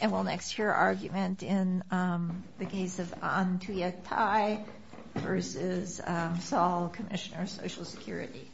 And we'll next hear argument in the case of Anh Tuyet Thai v. Saul, Commissioner of Social Security.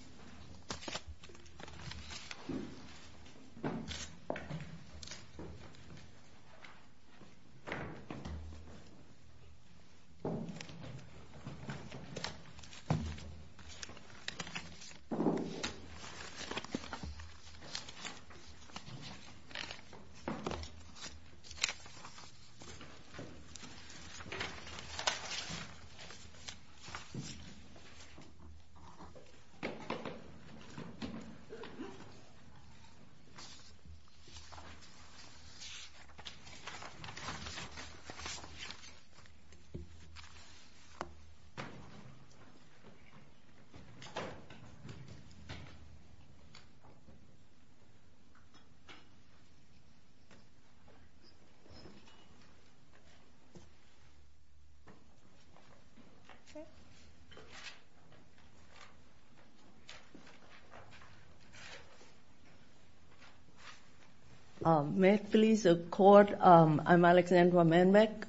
May it please the Court, I'm Alexandra Manbeck,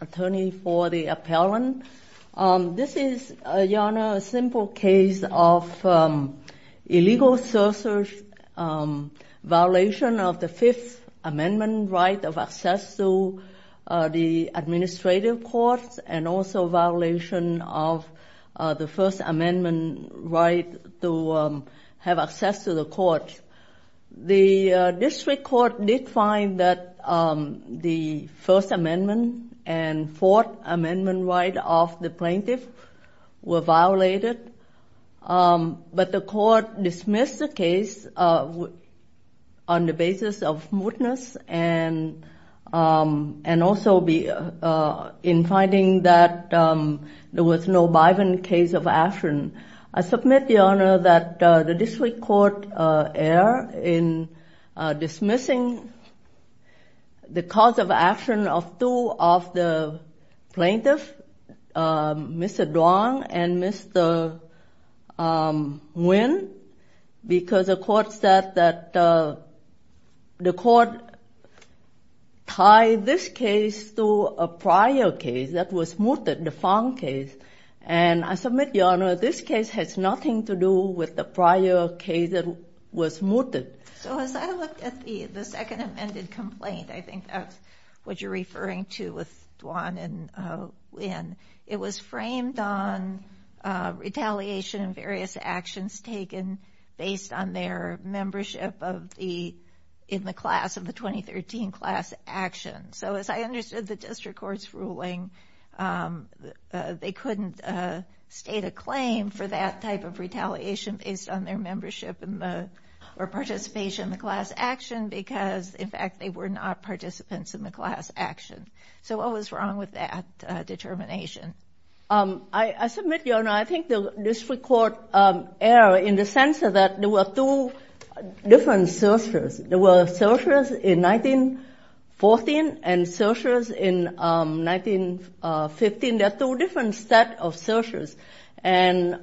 attorney for the appellant. This is, Your Honor, a simple case of illegal searchers' violation of the Fifth Amendment right of access to the administrative courts and also violation of the First Amendment right to have access to the courts. The district court did find that the First Amendment and Fourth Amendment right of the plaintiff were violated, but the court dismissed the case on the basis of mootness and also in finding that there was no bribing case of action. I submit, Your Honor, that the district court erred in dismissing the cause of action of two of the plaintiffs, Mr. Duong and Mr. Nguyen, because the court said that the court tied this case to a prior case that was mooted, the Phong case. And I submit, Your Honor, this case has nothing to do with the prior case that was mooted. So as I looked at the Second Amendment complaint, I think that's what you're referring to with Duong and Nguyen, it was framed on retaliation and various actions taken based on their membership in the class of the 2013 class action. So as I understood the district court's ruling, they couldn't state a claim for that type of retaliation based on their membership or participation in the class action because, in fact, they were not participants in the class action. So what was wrong with that determination? I submit, Your Honor, I think the district court erred in the sense that there were two different searches. There were searches in 1914 and searches in 1915. There are two different sets of searches. And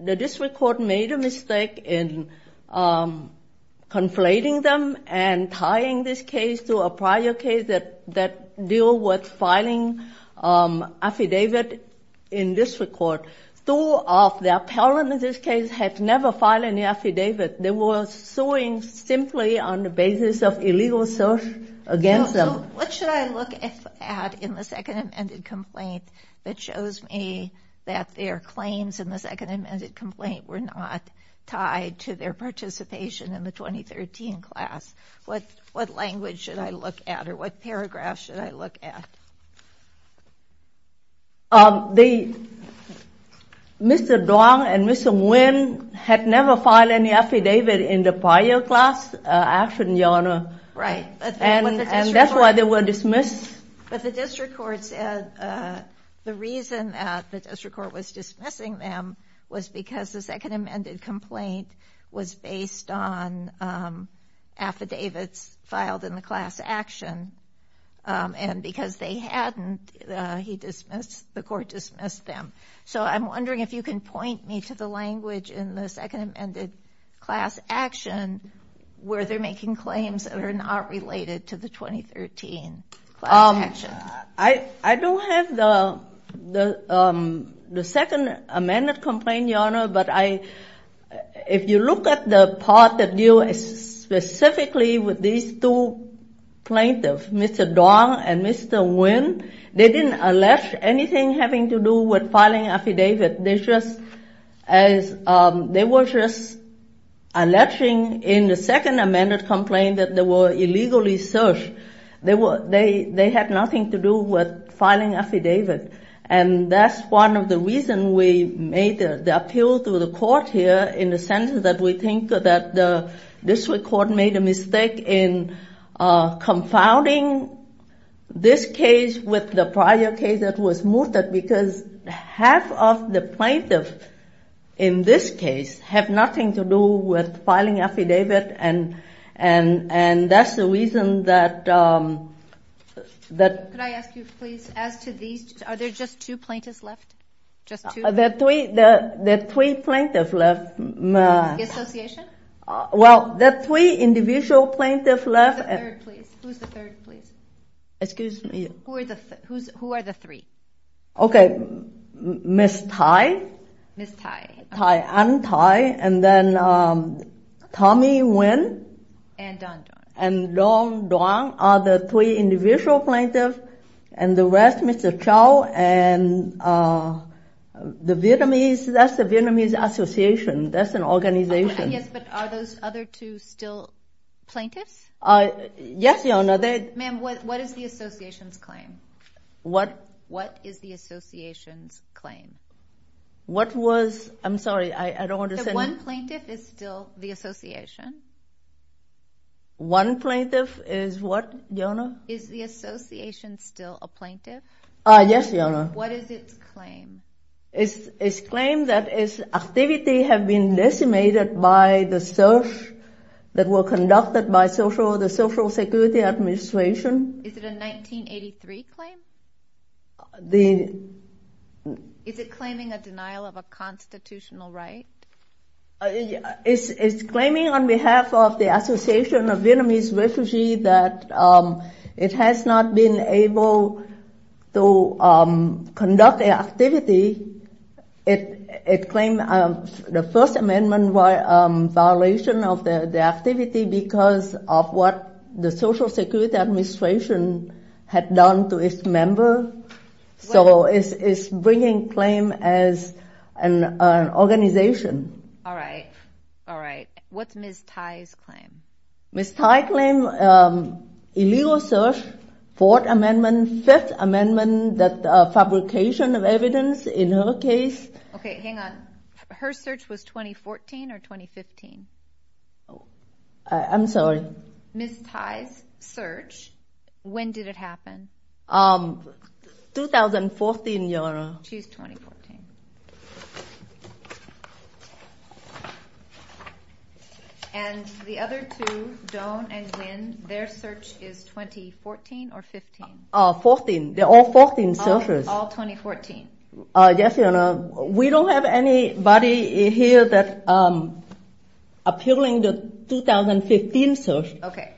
the district court made a mistake in conflating them and tying this case to a prior case that deal with filing affidavit in district court. Two of the appellants in this case had never filed any affidavit. They were suing simply on the basis of illegal search against them. So what should I look at in the Second Amendment complaint that shows me that their claims in the Second Amendment complaint were not tied to their participation in the 2013 class? What language should I look at or what paragraph should I look at? Mr. Duong and Mr. Nguyen had never filed any affidavit in the prior class action, Your Honor. Right. And that's why they were dismissed. But the district court said the reason that the district court was dismissing them was because the Second Amendment complaint was based on affidavits filed in the class action and because they hadn't, the court dismissed them. So I'm wondering if you can point me to the language in the Second Amendment class action where they're making claims that are not related to the 2013 class action. I don't have the Second Amendment complaint, Your Honor, but if you look at the part that deals specifically with these two plaintiffs, Mr. Duong and Mr. Nguyen, they didn't allege anything having to do with filing affidavit. They were just alleging in the Second Amendment complaint that they were illegally searched. They had nothing to do with filing affidavit. And that's one of the reasons we made the appeal to the court here in the sense that we think that the district court made a mistake in confounding this case with the prior case that was mooted because half of the plaintiffs in this case have nothing to do with filing affidavit. And that's the reason that— Are there just two plaintiffs left? Just two? There are three plaintiffs left. The association? Well, there are three individual plaintiffs left. Who's the third, please? Excuse me? Who are the three? Okay, Ms. Thai. Ms. Thai. Thai Anh, Thai, and then Tommy Nguyen. And Duong Duong. Duong Duong are the three individual plaintiffs, and the rest, Mr. Chau and the Vietnamese. That's the Vietnamese Association. That's an organization. Yes, but are those other two still plaintiffs? Yes, Your Honor. Ma'am, what is the association's claim? What? What is the association's claim? What was—I'm sorry, I don't understand. The one plaintiff is still the association? One plaintiff is what, Your Honor? Is the association still a plaintiff? Yes, Your Honor. What is its claim? Its claim that its activities have been decimated by the search that was conducted by the Social Security Administration. Is it a 1983 claim? The— Is it claiming a denial of a constitutional right? It's claiming on behalf of the Association of Vietnamese Refugees that it has not been able to conduct an activity. It claimed the First Amendment was a violation of the activity because of what the Social Security Administration had done to its members. So it's bringing claim as an organization. All right. All right. What's Ms. Thai's claim? Ms. Thai claimed illegal search, Fourth Amendment, Fifth Amendment, that fabrication of evidence in her case. Okay, hang on. Her search was 2014 or 2015? I'm sorry. Ms. Thai's search, when did it happen? 2014, Your Honor. She's 2014. And the other two, Doan and Nguyen, their search is 2014 or 15? 14. They're all 14 searches. All 2014? Yes, Your Honor. We don't have anybody here that appealing the 2015 search. Okay.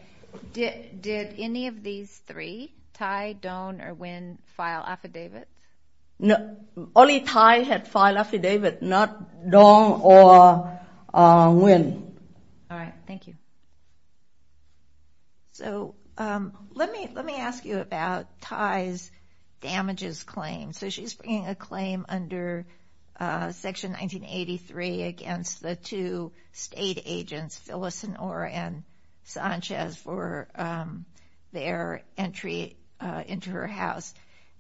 Did any of these three, Thai, Doan, or Nguyen, file affidavits? Only Thai had filed affidavits, not Doan or Nguyen. All right. Thank you. So let me ask you about Thai's damages claim. So she's bringing a claim under Section 1983 against the two state agents, Phyllis and Ora and Sanchez, for their entry into her house.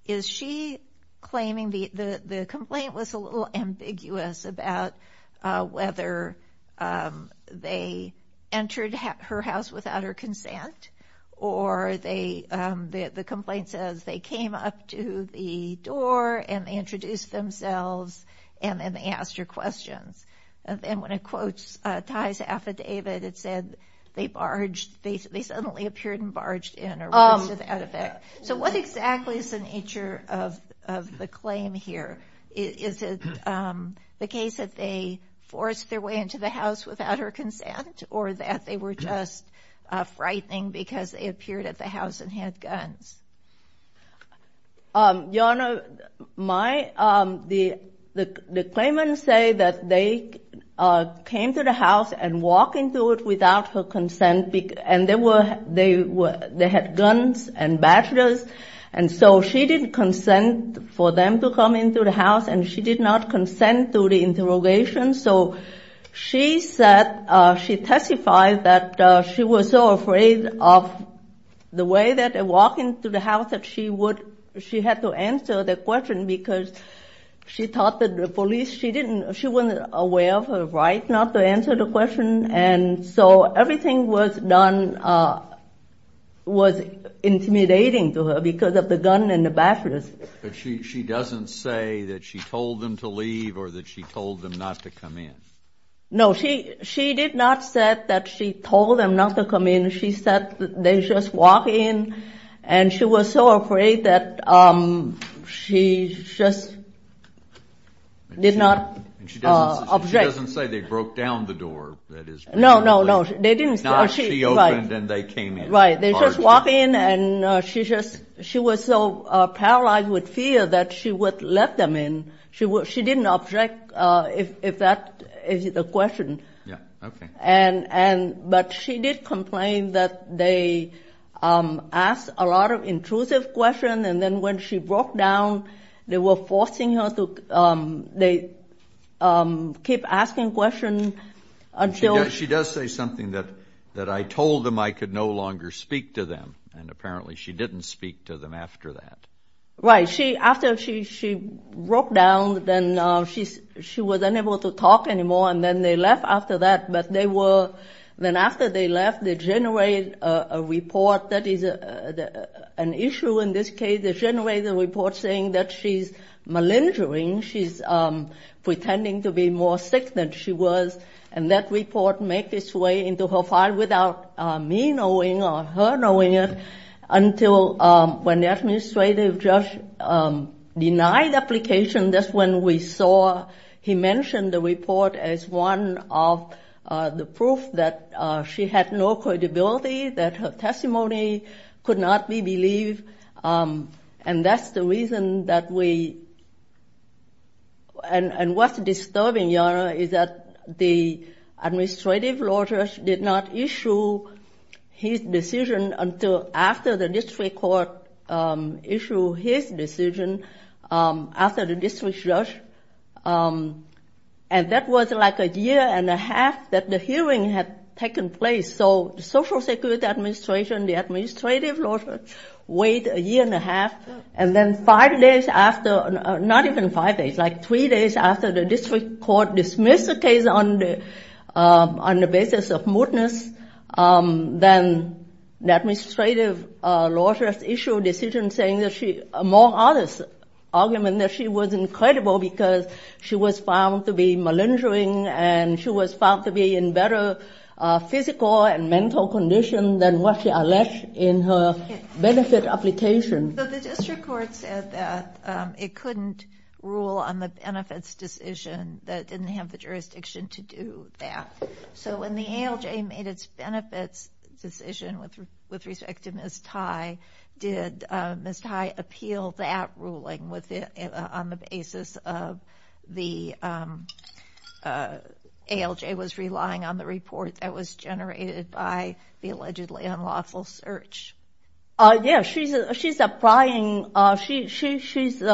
Is she claiming the complaint was a little ambiguous about whether they entered her house without her consent, or the complaint says they came up to the door and they introduced themselves, and then they asked her questions. And when it quotes Thai's affidavit, it said they barged, they suddenly appeared and barged in, or whatever that effect. So what exactly is the nature of the claim here? Is it the case that they forced their way into the house without her consent, or that they were just frightening because they appeared at the house and had guns? Your Honor, the claimant say that they came to the house and walked into it without her consent, and they had guns and bachelors, and so she didn't consent for them to come into the house, and she did not consent to the interrogation. So she testified that she was so afraid of the way that they walked into the house that she had to answer the question because she thought that the police, she wasn't aware of her right not to answer the question. And so everything was done, was intimidating to her because of the gun and the bachelors. But she doesn't say that she told them to leave or that she told them not to come in. No, she did not say that she told them not to come in. She said they just walked in, and she was so afraid that she just did not object. She doesn't say they broke down the door. No, no, no. Not she opened and they came in. Right, they just walked in, and she was so paralyzed with fear that she would let them in. She didn't object if that is the question. Yeah, okay. But she did complain that they asked a lot of intrusive questions, and then when she broke down, they were forcing her to keep asking questions. She does say something that I told them I could no longer speak to them, and apparently she didn't speak to them after that. Right. After she broke down, then she was unable to talk anymore, and then they left after that. Then after they left, they generated a report that is an issue in this case. They generated a report saying that she's malingering. She's pretending to be more sick than she was, and that report made its way into her file without me knowing or her knowing it until when the administrative judge denied the application. That's when we saw he mentioned the report as one of the proof that she had no credibility, that her testimony could not be believed, and that's the reason that we – and what's disturbing, Your Honor, is that the administrative law judge did not issue his decision until after the district court issued his decision. After the district judge – and that was like a year and a half that the hearing had taken place. So the Social Security Administration, the administrative law judge, waited a year and a half, and then five days after – not even five days, like three days after the district court dismissed the case on the basis of mootness, then the administrative law judge issued a decision saying that she – among others, argument that she was incredible because she was found to be malingering and she was found to be in better physical and mental condition than what she alleged in her benefit application. So the district court said that it couldn't rule on the benefits decision, that it didn't have the jurisdiction to do that. So when the ALJ made its benefits decision with respect to Ms. Thai, did Ms. Thai appeal that ruling on the basis of the – ALJ was relying on the report that was generated by the allegedly unlawful search? Yes, she's applying – she's –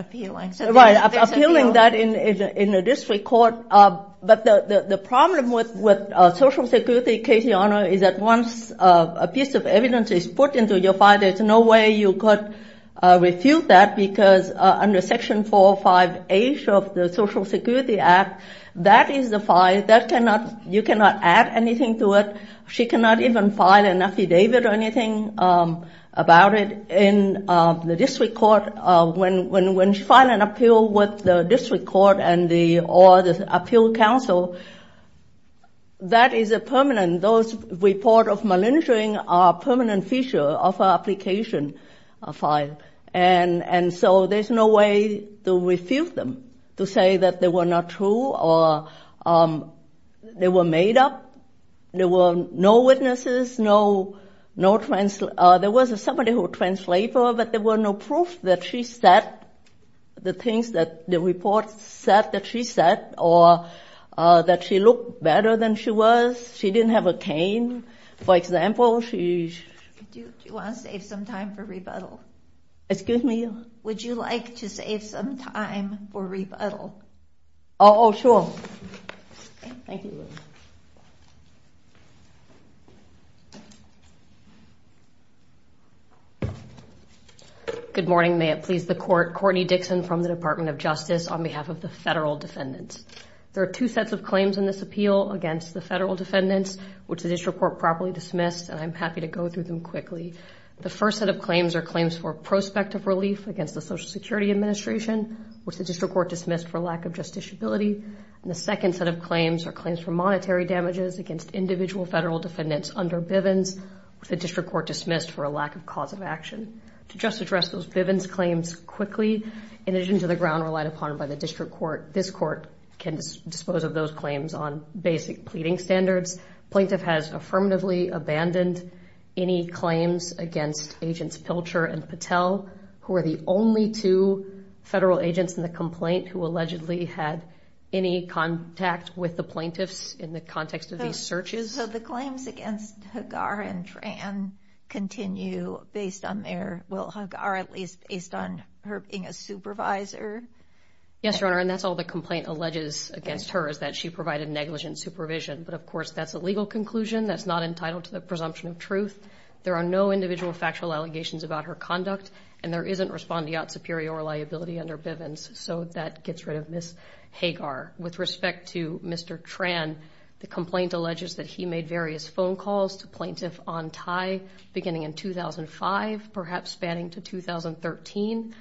Appealing. Right, appealing that in the district court. But the problem with Social Security case, Your Honor, is that once a piece of evidence is put into your file, there's no way you could refute that because under Section 405A of the Social Security Act, that is the file. That cannot – you cannot add anything to it. She cannot even file an affidavit or anything about it in the district court. When filing an appeal with the district court or the appeal counsel, that is a permanent – those report of malingering are permanent feature of our application file. And so there's no way to refute them, to say that they were not true or they were made up. There were no witnesses, no – there was somebody who translated, but there was no proof that she said the things that the report said that she said or that she looked better than she was. She didn't have a cane. For example, she – Do you want to save some time for rebuttal? Excuse me? Would you like to save some time for rebuttal? Oh, sure. Thank you. Good morning. May it please the Court. Courtney Dixon from the Department of Justice on behalf of the federal defendants. There are two sets of claims in this appeal against the federal defendants, which the district court properly dismissed, and I'm happy to go through them quickly. The first set of claims are claims for prospect of relief against the Social Security Administration, which the district court dismissed for lack of justiciability. And the second set of claims are claims for monetary damages against individual federal defendants under Bivens, which the district court dismissed for a lack of cause of action. To just address those Bivens claims quickly, in addition to the ground relied upon by the district court, this court can dispose of those claims on basic pleading standards. Plaintiff has affirmatively abandoned any claims against Agents Pilcher and Patel, who are the only two federal agents in the complaint who allegedly had any contact with the plaintiffs in the context of these searches. So the claims against Hagar and Tran continue based on their – well, Hagar, at least, based on her being a supervisor? Yes, Your Honor, and that's all the complaint alleges against her, is that she provided negligent supervision. But, of course, that's a legal conclusion that's not entitled to the presumption of truth. There are no individual factual allegations about her conduct, and there isn't respondeat superior liability under Bivens, so that gets rid of Ms. Hagar. With respect to Mr. Tran, the complaint alleges that he made various phone calls to plaintiff on tie, beginning in 2005, perhaps spanning to 2013.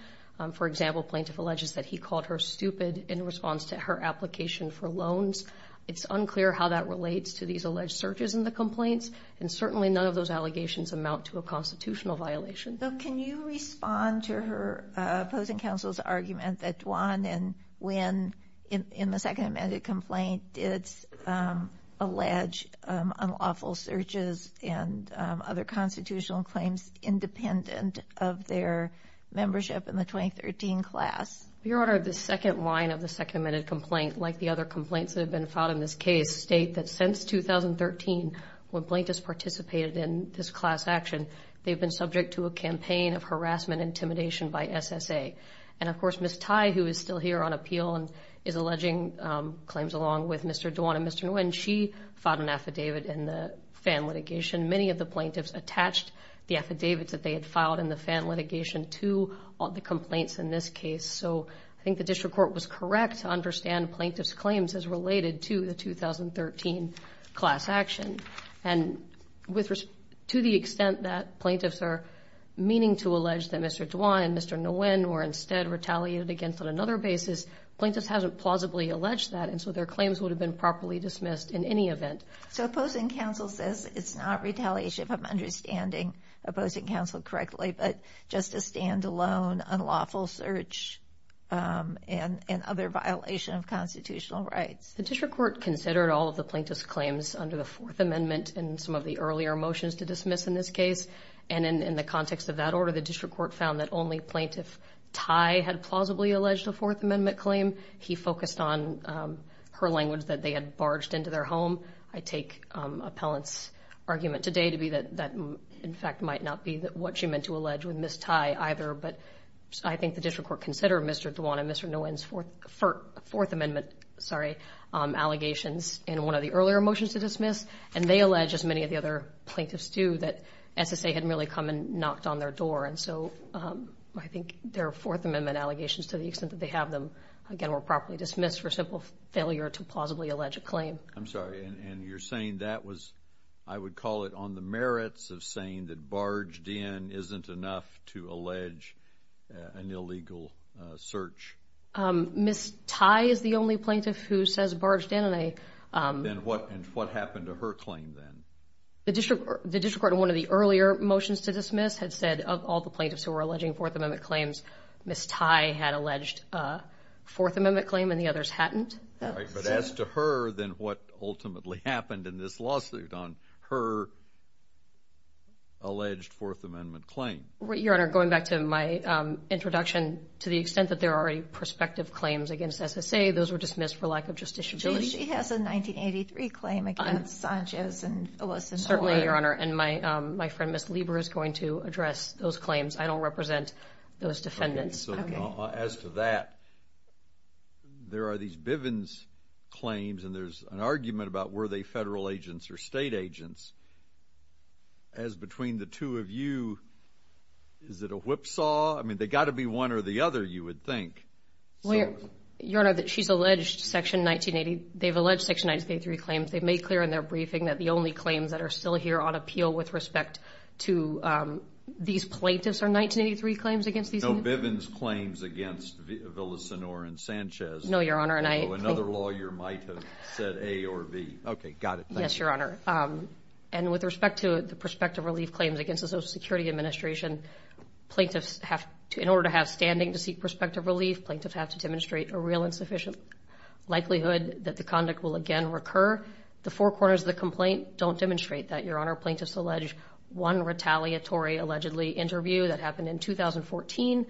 For example, plaintiff alleges that he called her stupid in response to her application for loans. It's unclear how that relates to these alleged searches in the complaints, and certainly none of those allegations amount to a constitutional violation. So can you respond to her opposing counsel's argument that Dwan and Nguyen, in the second amended complaint, did allege unlawful searches and other constitutional claims independent of their membership in the 2013 class? Your Honor, the second line of the second amended complaint, like the other complaints that have been filed in this case, state that since 2013 when plaintiffs participated in this class action, they've been subject to a campaign of harassment and intimidation by SSA. And, of course, Ms. Tai, who is still here on appeal and is alleging claims along with Mr. Dwan and Mr. Nguyen, she filed an affidavit in the FAN litigation. Many of the plaintiffs attached the affidavits that they had filed in the FAN litigation to the complaints in this case. So I think the district court was correct to understand plaintiff's claims as related to the 2013 class action. And to the extent that plaintiffs are meaning to allege that Mr. Dwan and Mr. Nguyen were instead retaliated against on another basis, plaintiffs haven't plausibly alleged that, and so their claims would have been properly dismissed in any event. So opposing counsel says it's not retaliation, if I'm understanding opposing counsel correctly, but just a standalone unlawful search and other violation of constitutional rights. The district court considered all of the plaintiff's claims under the Fourth Amendment in some of the earlier motions to dismiss in this case. And in the context of that order, the district court found that only plaintiff Tai had plausibly alleged a Fourth Amendment claim. He focused on her language that they had barged into their home. I take appellant's argument today to be that that, in fact, might not be what she meant to allege with Ms. Tai either. But I think the district court considered Mr. Dwan and Mr. Nguyen's Fourth Amendment allegations in one of the earlier motions to dismiss, and they allege, as many of the other plaintiffs do, that SSA had merely come and knocked on their door. And so I think their Fourth Amendment allegations, to the extent that they have them, again, were properly dismissed for simple failure to plausibly allege a claim. I'm sorry. And you're saying that was, I would call it, on the merits of saying that barged in isn't enough to allege an illegal search? Ms. Tai is the only plaintiff who says barged in. And what happened to her claim then? The district court in one of the earlier motions to dismiss had said of all the plaintiffs who were alleging Fourth Amendment claims, Ms. Tai had alleged a Fourth Amendment claim and the others hadn't. Right. But as to her, then, what ultimately happened in this lawsuit on her alleged Fourth Amendment claim? Your Honor, going back to my introduction, to the extent that there are prospective claims against SSA, those were dismissed for lack of justiciability. She has a 1983 claim against Sanchez and Ellison. Certainly, Your Honor. And my friend, Ms. Lieber, is going to address those claims. I don't represent those defendants. Okay. As to that, there are these Bivens claims and there's an argument about were they federal agents or state agents. As between the two of you, is it a whipsaw? I mean, they've got to be one or the other, you would think. Your Honor, she's alleged Section 1980. They've alleged Section 1983 claims. They've made clear in their briefing that the only claims that are still here on appeal with respect to these plaintiffs are 1983 claims against these men? The Bivens claims against Villasenor and Sanchez. No, Your Honor. Another lawyer might have said A or B. Okay, got it. Yes, Your Honor. And with respect to the prospective relief claims against the Social Security Administration, plaintiffs have to, in order to have standing to seek prospective relief, plaintiffs have to demonstrate a real insufficient likelihood that the conduct will again recur. The four corners of the complaint don't demonstrate that, Your Honor. Plaintiffs allege one retaliatory, allegedly, interview that happened in 2014.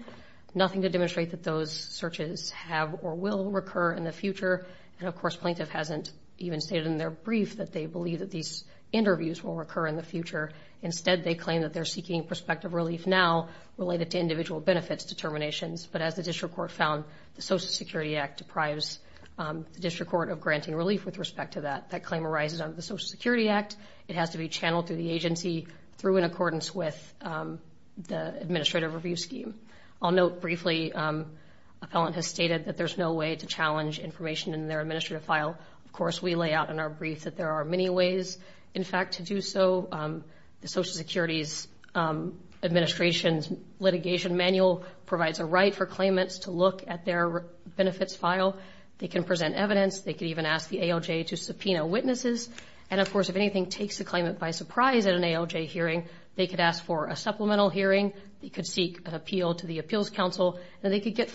Nothing to demonstrate that those searches have or will recur in the future. And, of course, plaintiff hasn't even stated in their brief that they believe that these interviews will recur in the future. Instead, they claim that they're seeking prospective relief now related to individual benefits determinations. But as the district court found, the Social Security Act deprives the district court of granting relief with respect to that. That claim arises under the Social Security Act. It has to be channeled through the agency through in accordance with the administrative review scheme. I'll note briefly a felon has stated that there's no way to challenge information in their administrative file. Of course, we lay out in our brief that there are many ways, in fact, to do so. The Social Security Administration's litigation manual provides a right for claimants to look at their benefits file. They can present evidence. They can even ask the ALJ to subpoena witnesses. And, of course, if anything takes the claimant by surprise at an ALJ hearing, they could ask for a supplemental hearing. They could seek an appeal to the Appeals Council. And they could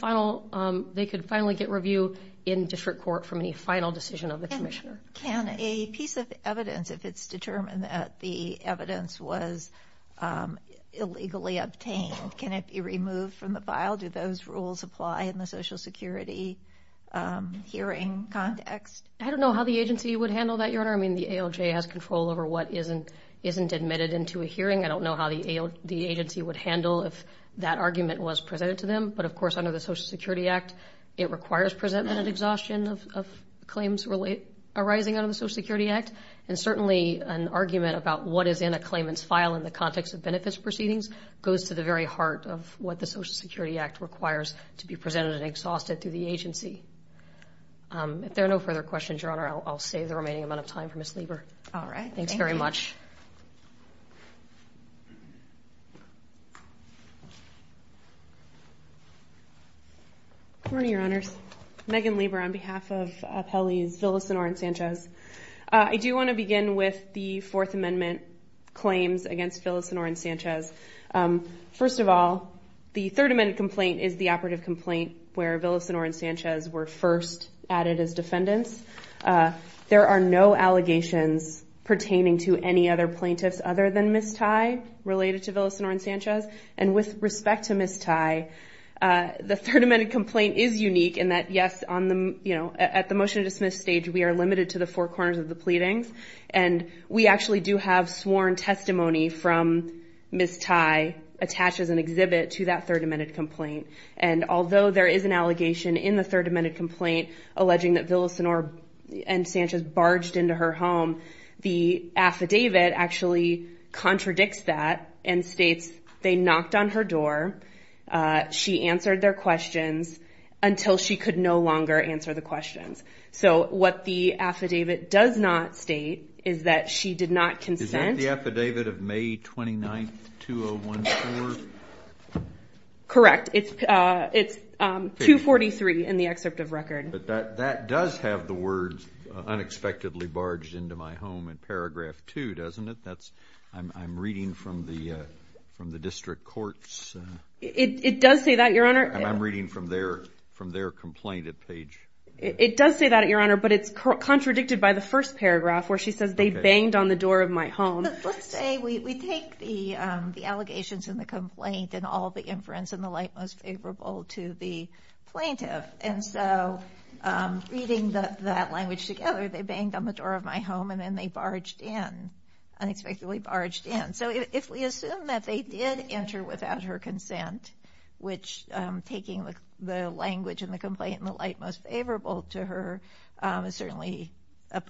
finally get review in district court from any final decision of the commissioner. Can a piece of evidence, if it's determined that the evidence was illegally obtained, can it be removed from the file? Do those rules apply in the Social Security hearing context? I don't know how the agency would handle that, Your Honor. I mean, the ALJ has control over what isn't admitted into a hearing. I don't know how the agency would handle if that argument was presented to them. But, of course, under the Social Security Act, it requires presentment and exhaustion of claims arising under the Social Security Act. And certainly an argument about what is in a claimant's file in the context of benefits proceedings goes to the very heart of what the Social Security Act requires to be presented and exhausted through the agency. If there are no further questions, Your Honor, I'll save the remaining amount of time for Ms. Lieber. All right. Thanks very much. Good morning, Your Honors. Megan Lieber on behalf of Appellees Villasenor and Sanchez. I do want to begin with the Fourth Amendment claims against Villasenor and Sanchez. First of all, the Third Amendment complaint is the operative complaint where Villasenor and Sanchez were first added as defendants. There are no allegations pertaining to any other plaintiffs other than Ms. Tye related to Villasenor and Sanchez. And with respect to Ms. Tye, the Third Amendment complaint is unique in that, yes, at the motion to dismiss stage, we are limited to the four corners of the pleadings. And we actually do have sworn testimony from Ms. Tye attached as an exhibit to that Third Amendment complaint. And although there is an allegation in the Third Amendment complaint alleging that Villasenor and Sanchez barged into her home, the affidavit actually contradicts that and states they knocked on her door. She answered their questions until she could no longer answer the questions. So what the affidavit does not state is that she did not consent. Is that the affidavit of May 29th, 2014? Correct. It's 243 in the excerpt of record. But that does have the words, unexpectedly barged into my home in paragraph two, doesn't it? I'm reading from the district courts. It does say that, Your Honor. I'm reading from their complaint page. It does say that, Your Honor, but it's contradicted by the first paragraph where she says they banged on the door of my home. Let's say we take the allegations in the complaint and all the inference in the light most favorable to the plaintiff. And so reading that language together, they banged on the door of my home and then they barged in, unexpectedly barged in. So if we assume that they did enter without her consent, which taking the language in the complaint in the light most favorable to her is certainly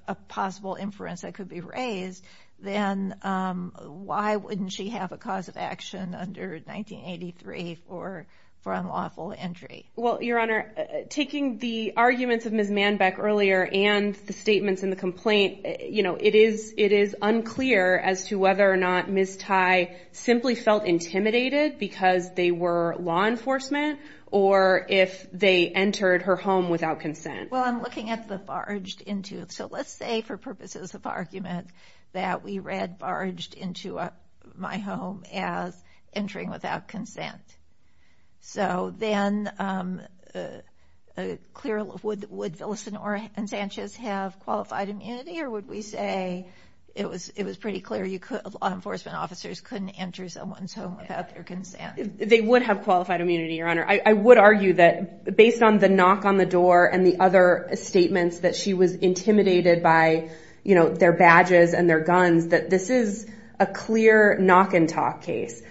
a possible inference that could be raised, then why wouldn't she have a cause of action under 1983 for unlawful entry? Well, Your Honor, taking the arguments of Ms. Manbeck earlier and the statements in the complaint, you know, it is unclear as to whether or not Ms. Thai simply felt intimidated because they were law enforcement or if they entered her home without consent. Well, I'm looking at the barged into. So let's say for purposes of argument that we read barged into my home as entering without consent. So then would Villasenor and Sanchez have qualified immunity? Or would we say it was pretty clear law enforcement officers couldn't enter someone's home without their consent? They would have qualified immunity, Your Honor. I would argue that based on the knock on the door and the other statements that she was intimidated by, you know, their badges and their guns, that this is a clear knock and talk case,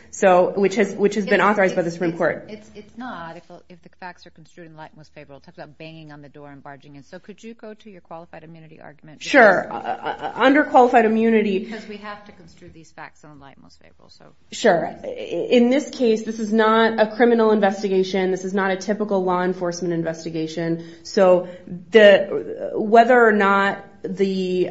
which has been authorized by the Supreme Court. It's not if the facts are construed in light and most favorable. It talks about banging on the door and barging in. So could you go to your qualified immunity argument? Sure. Under qualified immunity. Because we have to construe these facts in light and most favorable. Sure. In this case, this is not a criminal investigation. This is not a typical law enforcement investigation. So whether or not they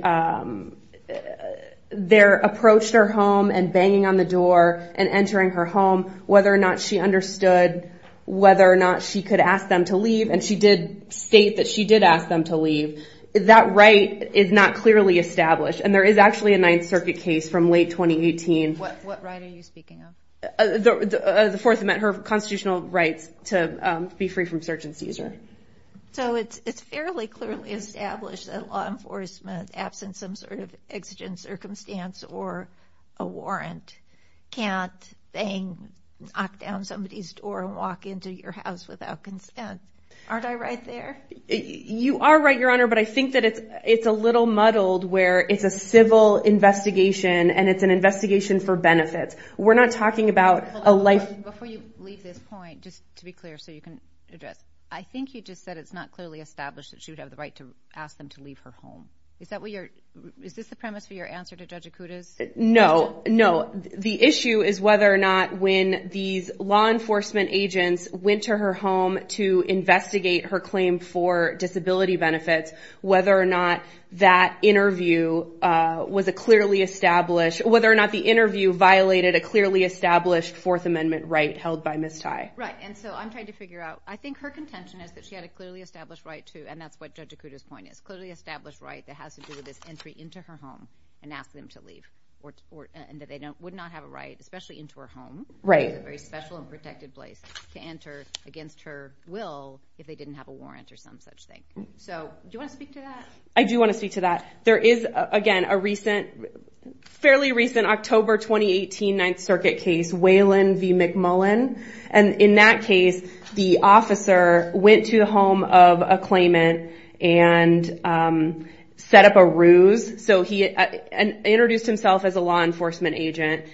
approached her home and banging on the door and entering her home, whether or not she understood, whether or not she could ask them to leave, and she did state that she did ask them to leave, that right is not clearly established. And there is actually a Ninth Circuit case from late 2018. What right are you speaking of? The Fourth Amendment, her constitutional rights to be free from search and seizure. So it's fairly clearly established that law enforcement, absent some sort of exigent circumstance or a warrant, can't bang, knock down somebody's door and walk into your house without consent. Aren't I right there? You are right, Your Honor. But I think that it's a little muddled where it's a civil investigation and it's an investigation for benefits. We're not talking about a life. Before you leave this point, just to be clear so you can address, I think you just said it's not clearly established that she would have the right to ask them to leave her home. Is this the premise for your answer to Judge Acuda's question? No. No. The issue is whether or not when these law enforcement agents went to her home to investigate her claim for disability benefits, whether or not that interview was a clearly established, whether or not the interview violated a clearly established Fourth Amendment right held by Ms. Tye. Right. And so I'm trying to figure out, I think her contention is that she had a clearly established right to, and that's what Judge Acuda's point is, clearly established right that has to do with this entry into her home and ask them to leave and that they would not have a right, especially into her home, a very special and protected place, to enter against her will if they didn't have a warrant or some such thing. So do you want to speak to that? I do want to speak to that. There is, again, a fairly recent October 2018 Ninth Circuit case, Whalen v. McMullen, and in that case the officer went to the home of a claimant and set up a ruse and introduced himself as a law enforcement agent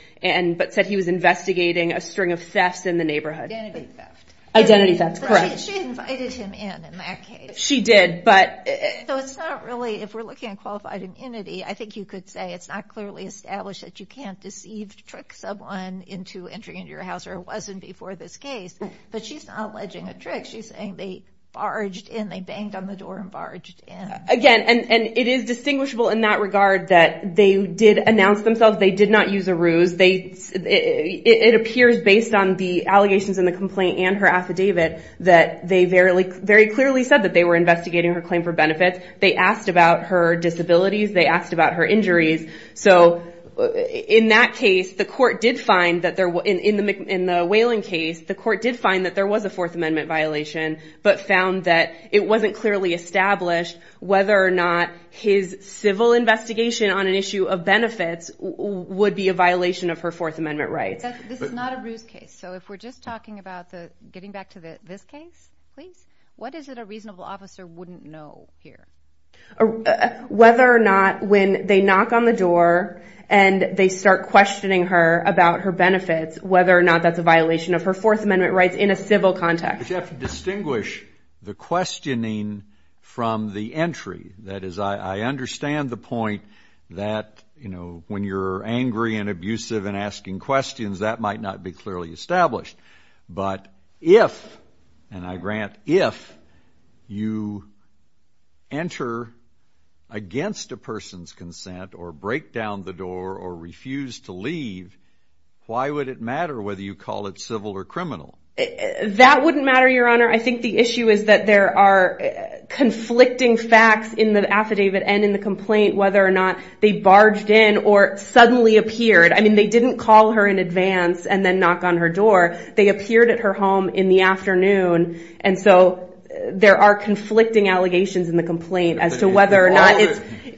but said he was investigating a string of thefts in the neighborhood. Identity theft. Identity theft, correct. She invited him in, in that case. She did, but... And so it's not really, if we're looking at qualified identity, I think you could say it's not clearly established that you can't deceive to trick someone into entering into your house or it wasn't before this case, but she's not alleging a trick. She's saying they barged in, they banged on the door and barged in. Again, and it is distinguishable in that regard that they did announce themselves, they did not use a ruse. It appears based on the allegations in the complaint and her affidavit that they very clearly said that they were investigating her claim for benefits. They asked about her disabilities. They asked about her injuries. So in that case, the court did find that there was, in the Whalen case, the court did find that there was a Fourth Amendment violation but found that it wasn't clearly established whether or not his civil investigation on an issue of benefits would be a violation of her Fourth Amendment rights. This is not a ruse case. So if we're just talking about getting back to this case, please. What is it a reasonable officer wouldn't know here? Whether or not when they knock on the door and they start questioning her about her benefits, whether or not that's a violation of her Fourth Amendment rights in a civil context. But you have to distinguish the questioning from the entry. That is, I understand the point that when you're angry and abusive and asking questions, that might not be clearly established. But if, and I grant if, you enter against a person's consent or break down the door or refuse to leave, why would it matter whether you call it civil or criminal? That wouldn't matter, Your Honor. I think the issue is that there are conflicting facts in the affidavit and in the complaint whether or not they barged in or suddenly appeared. I mean, they didn't call her in advance and then knock on her door. They appeared at her home in the afternoon. And so there are conflicting allegations in the complaint as to whether or not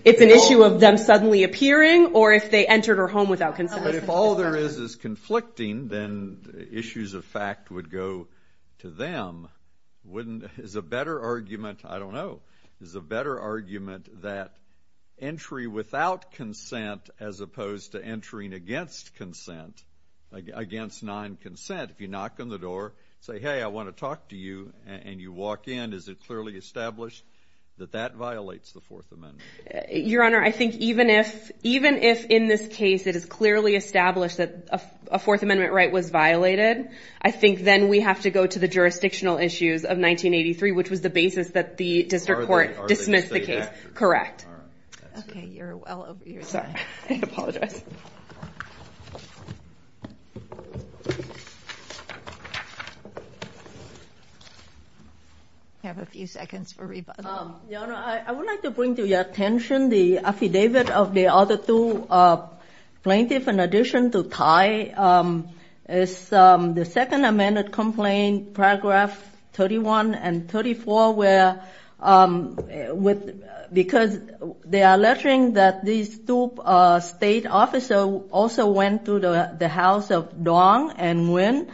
it's an issue of them suddenly appearing or if they entered her home without consent. But if all there is is conflicting, then issues of fact would go to them. Wouldn't, is a better argument, I don't know, is a better argument that entry without consent as opposed to entering against consent, against non-consent. If you knock on the door, say, hey, I want to talk to you, and you walk in, is it clearly established that that violates the Fourth Amendment? Your Honor, I think even if in this case it is clearly established that a Fourth Amendment right was violated, I think then we have to go to the jurisdictional issues of 1983, which was the basis that the district court dismissed the case. Correct. Okay, you're well over your time. Sorry, I apologize. We have a few seconds for rebuttal. Your Honor, I would like to bring to your attention the affidavit of the other two plaintiffs in addition to Ty. It's the Second Amendment Complaint, Paragraph 31 and 34, because they are alleging that these two state officers also went to the house of Duong and Nguyen,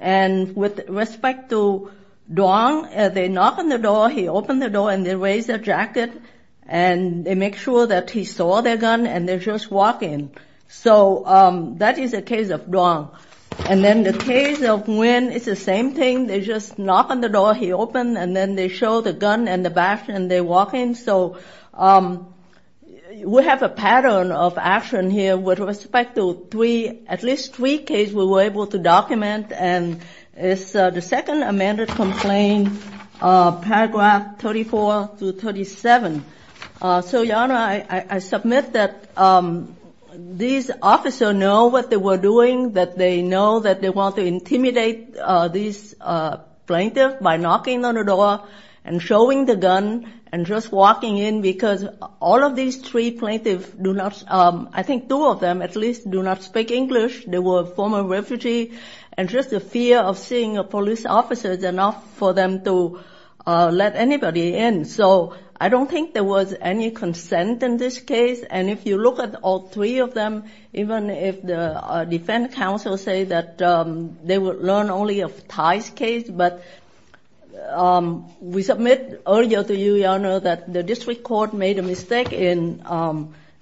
and with respect to Duong, they knock on the door, he open the door, and they raise their jacket, and they make sure that he saw their gun, and they just walk in. So that is the case of Duong. And then the case of Nguyen, it's the same thing. They just knock on the door, he open, and then they show the gun and the badge, and they walk in. So we have a pattern of action here with respect to at least three cases we were able to document, and it's the Second Amendment Complaint, Paragraph 34 through 37. So, Your Honor, I submit that these officers know what they were doing, that they know that they want to intimidate these plaintiffs by knocking on the door and showing the gun and just walking in, because all of these three plaintiffs do not, I think two of them at least, do not speak English. They were former refugees, and just the fear of seeing a police officer is enough for them to let anybody in. So I don't think there was any consent in this case. And if you look at all three of them, even if the defense counsel say that they will learn only of Thai's case, but we submit earlier to you, Your Honor, that the district court made a mistake in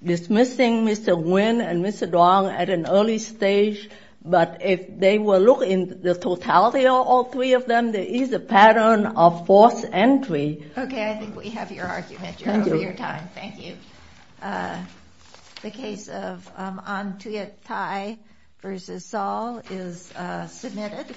dismissing Mr. Nguyen and Mr. Duong at an early stage. But if they were looking at the totality of all three of them, there is a pattern of forced entry. Okay, I think we have your argument. Thank you for your time. Thank you. The case of Anh Thuyet Thai v. Saul is submitted.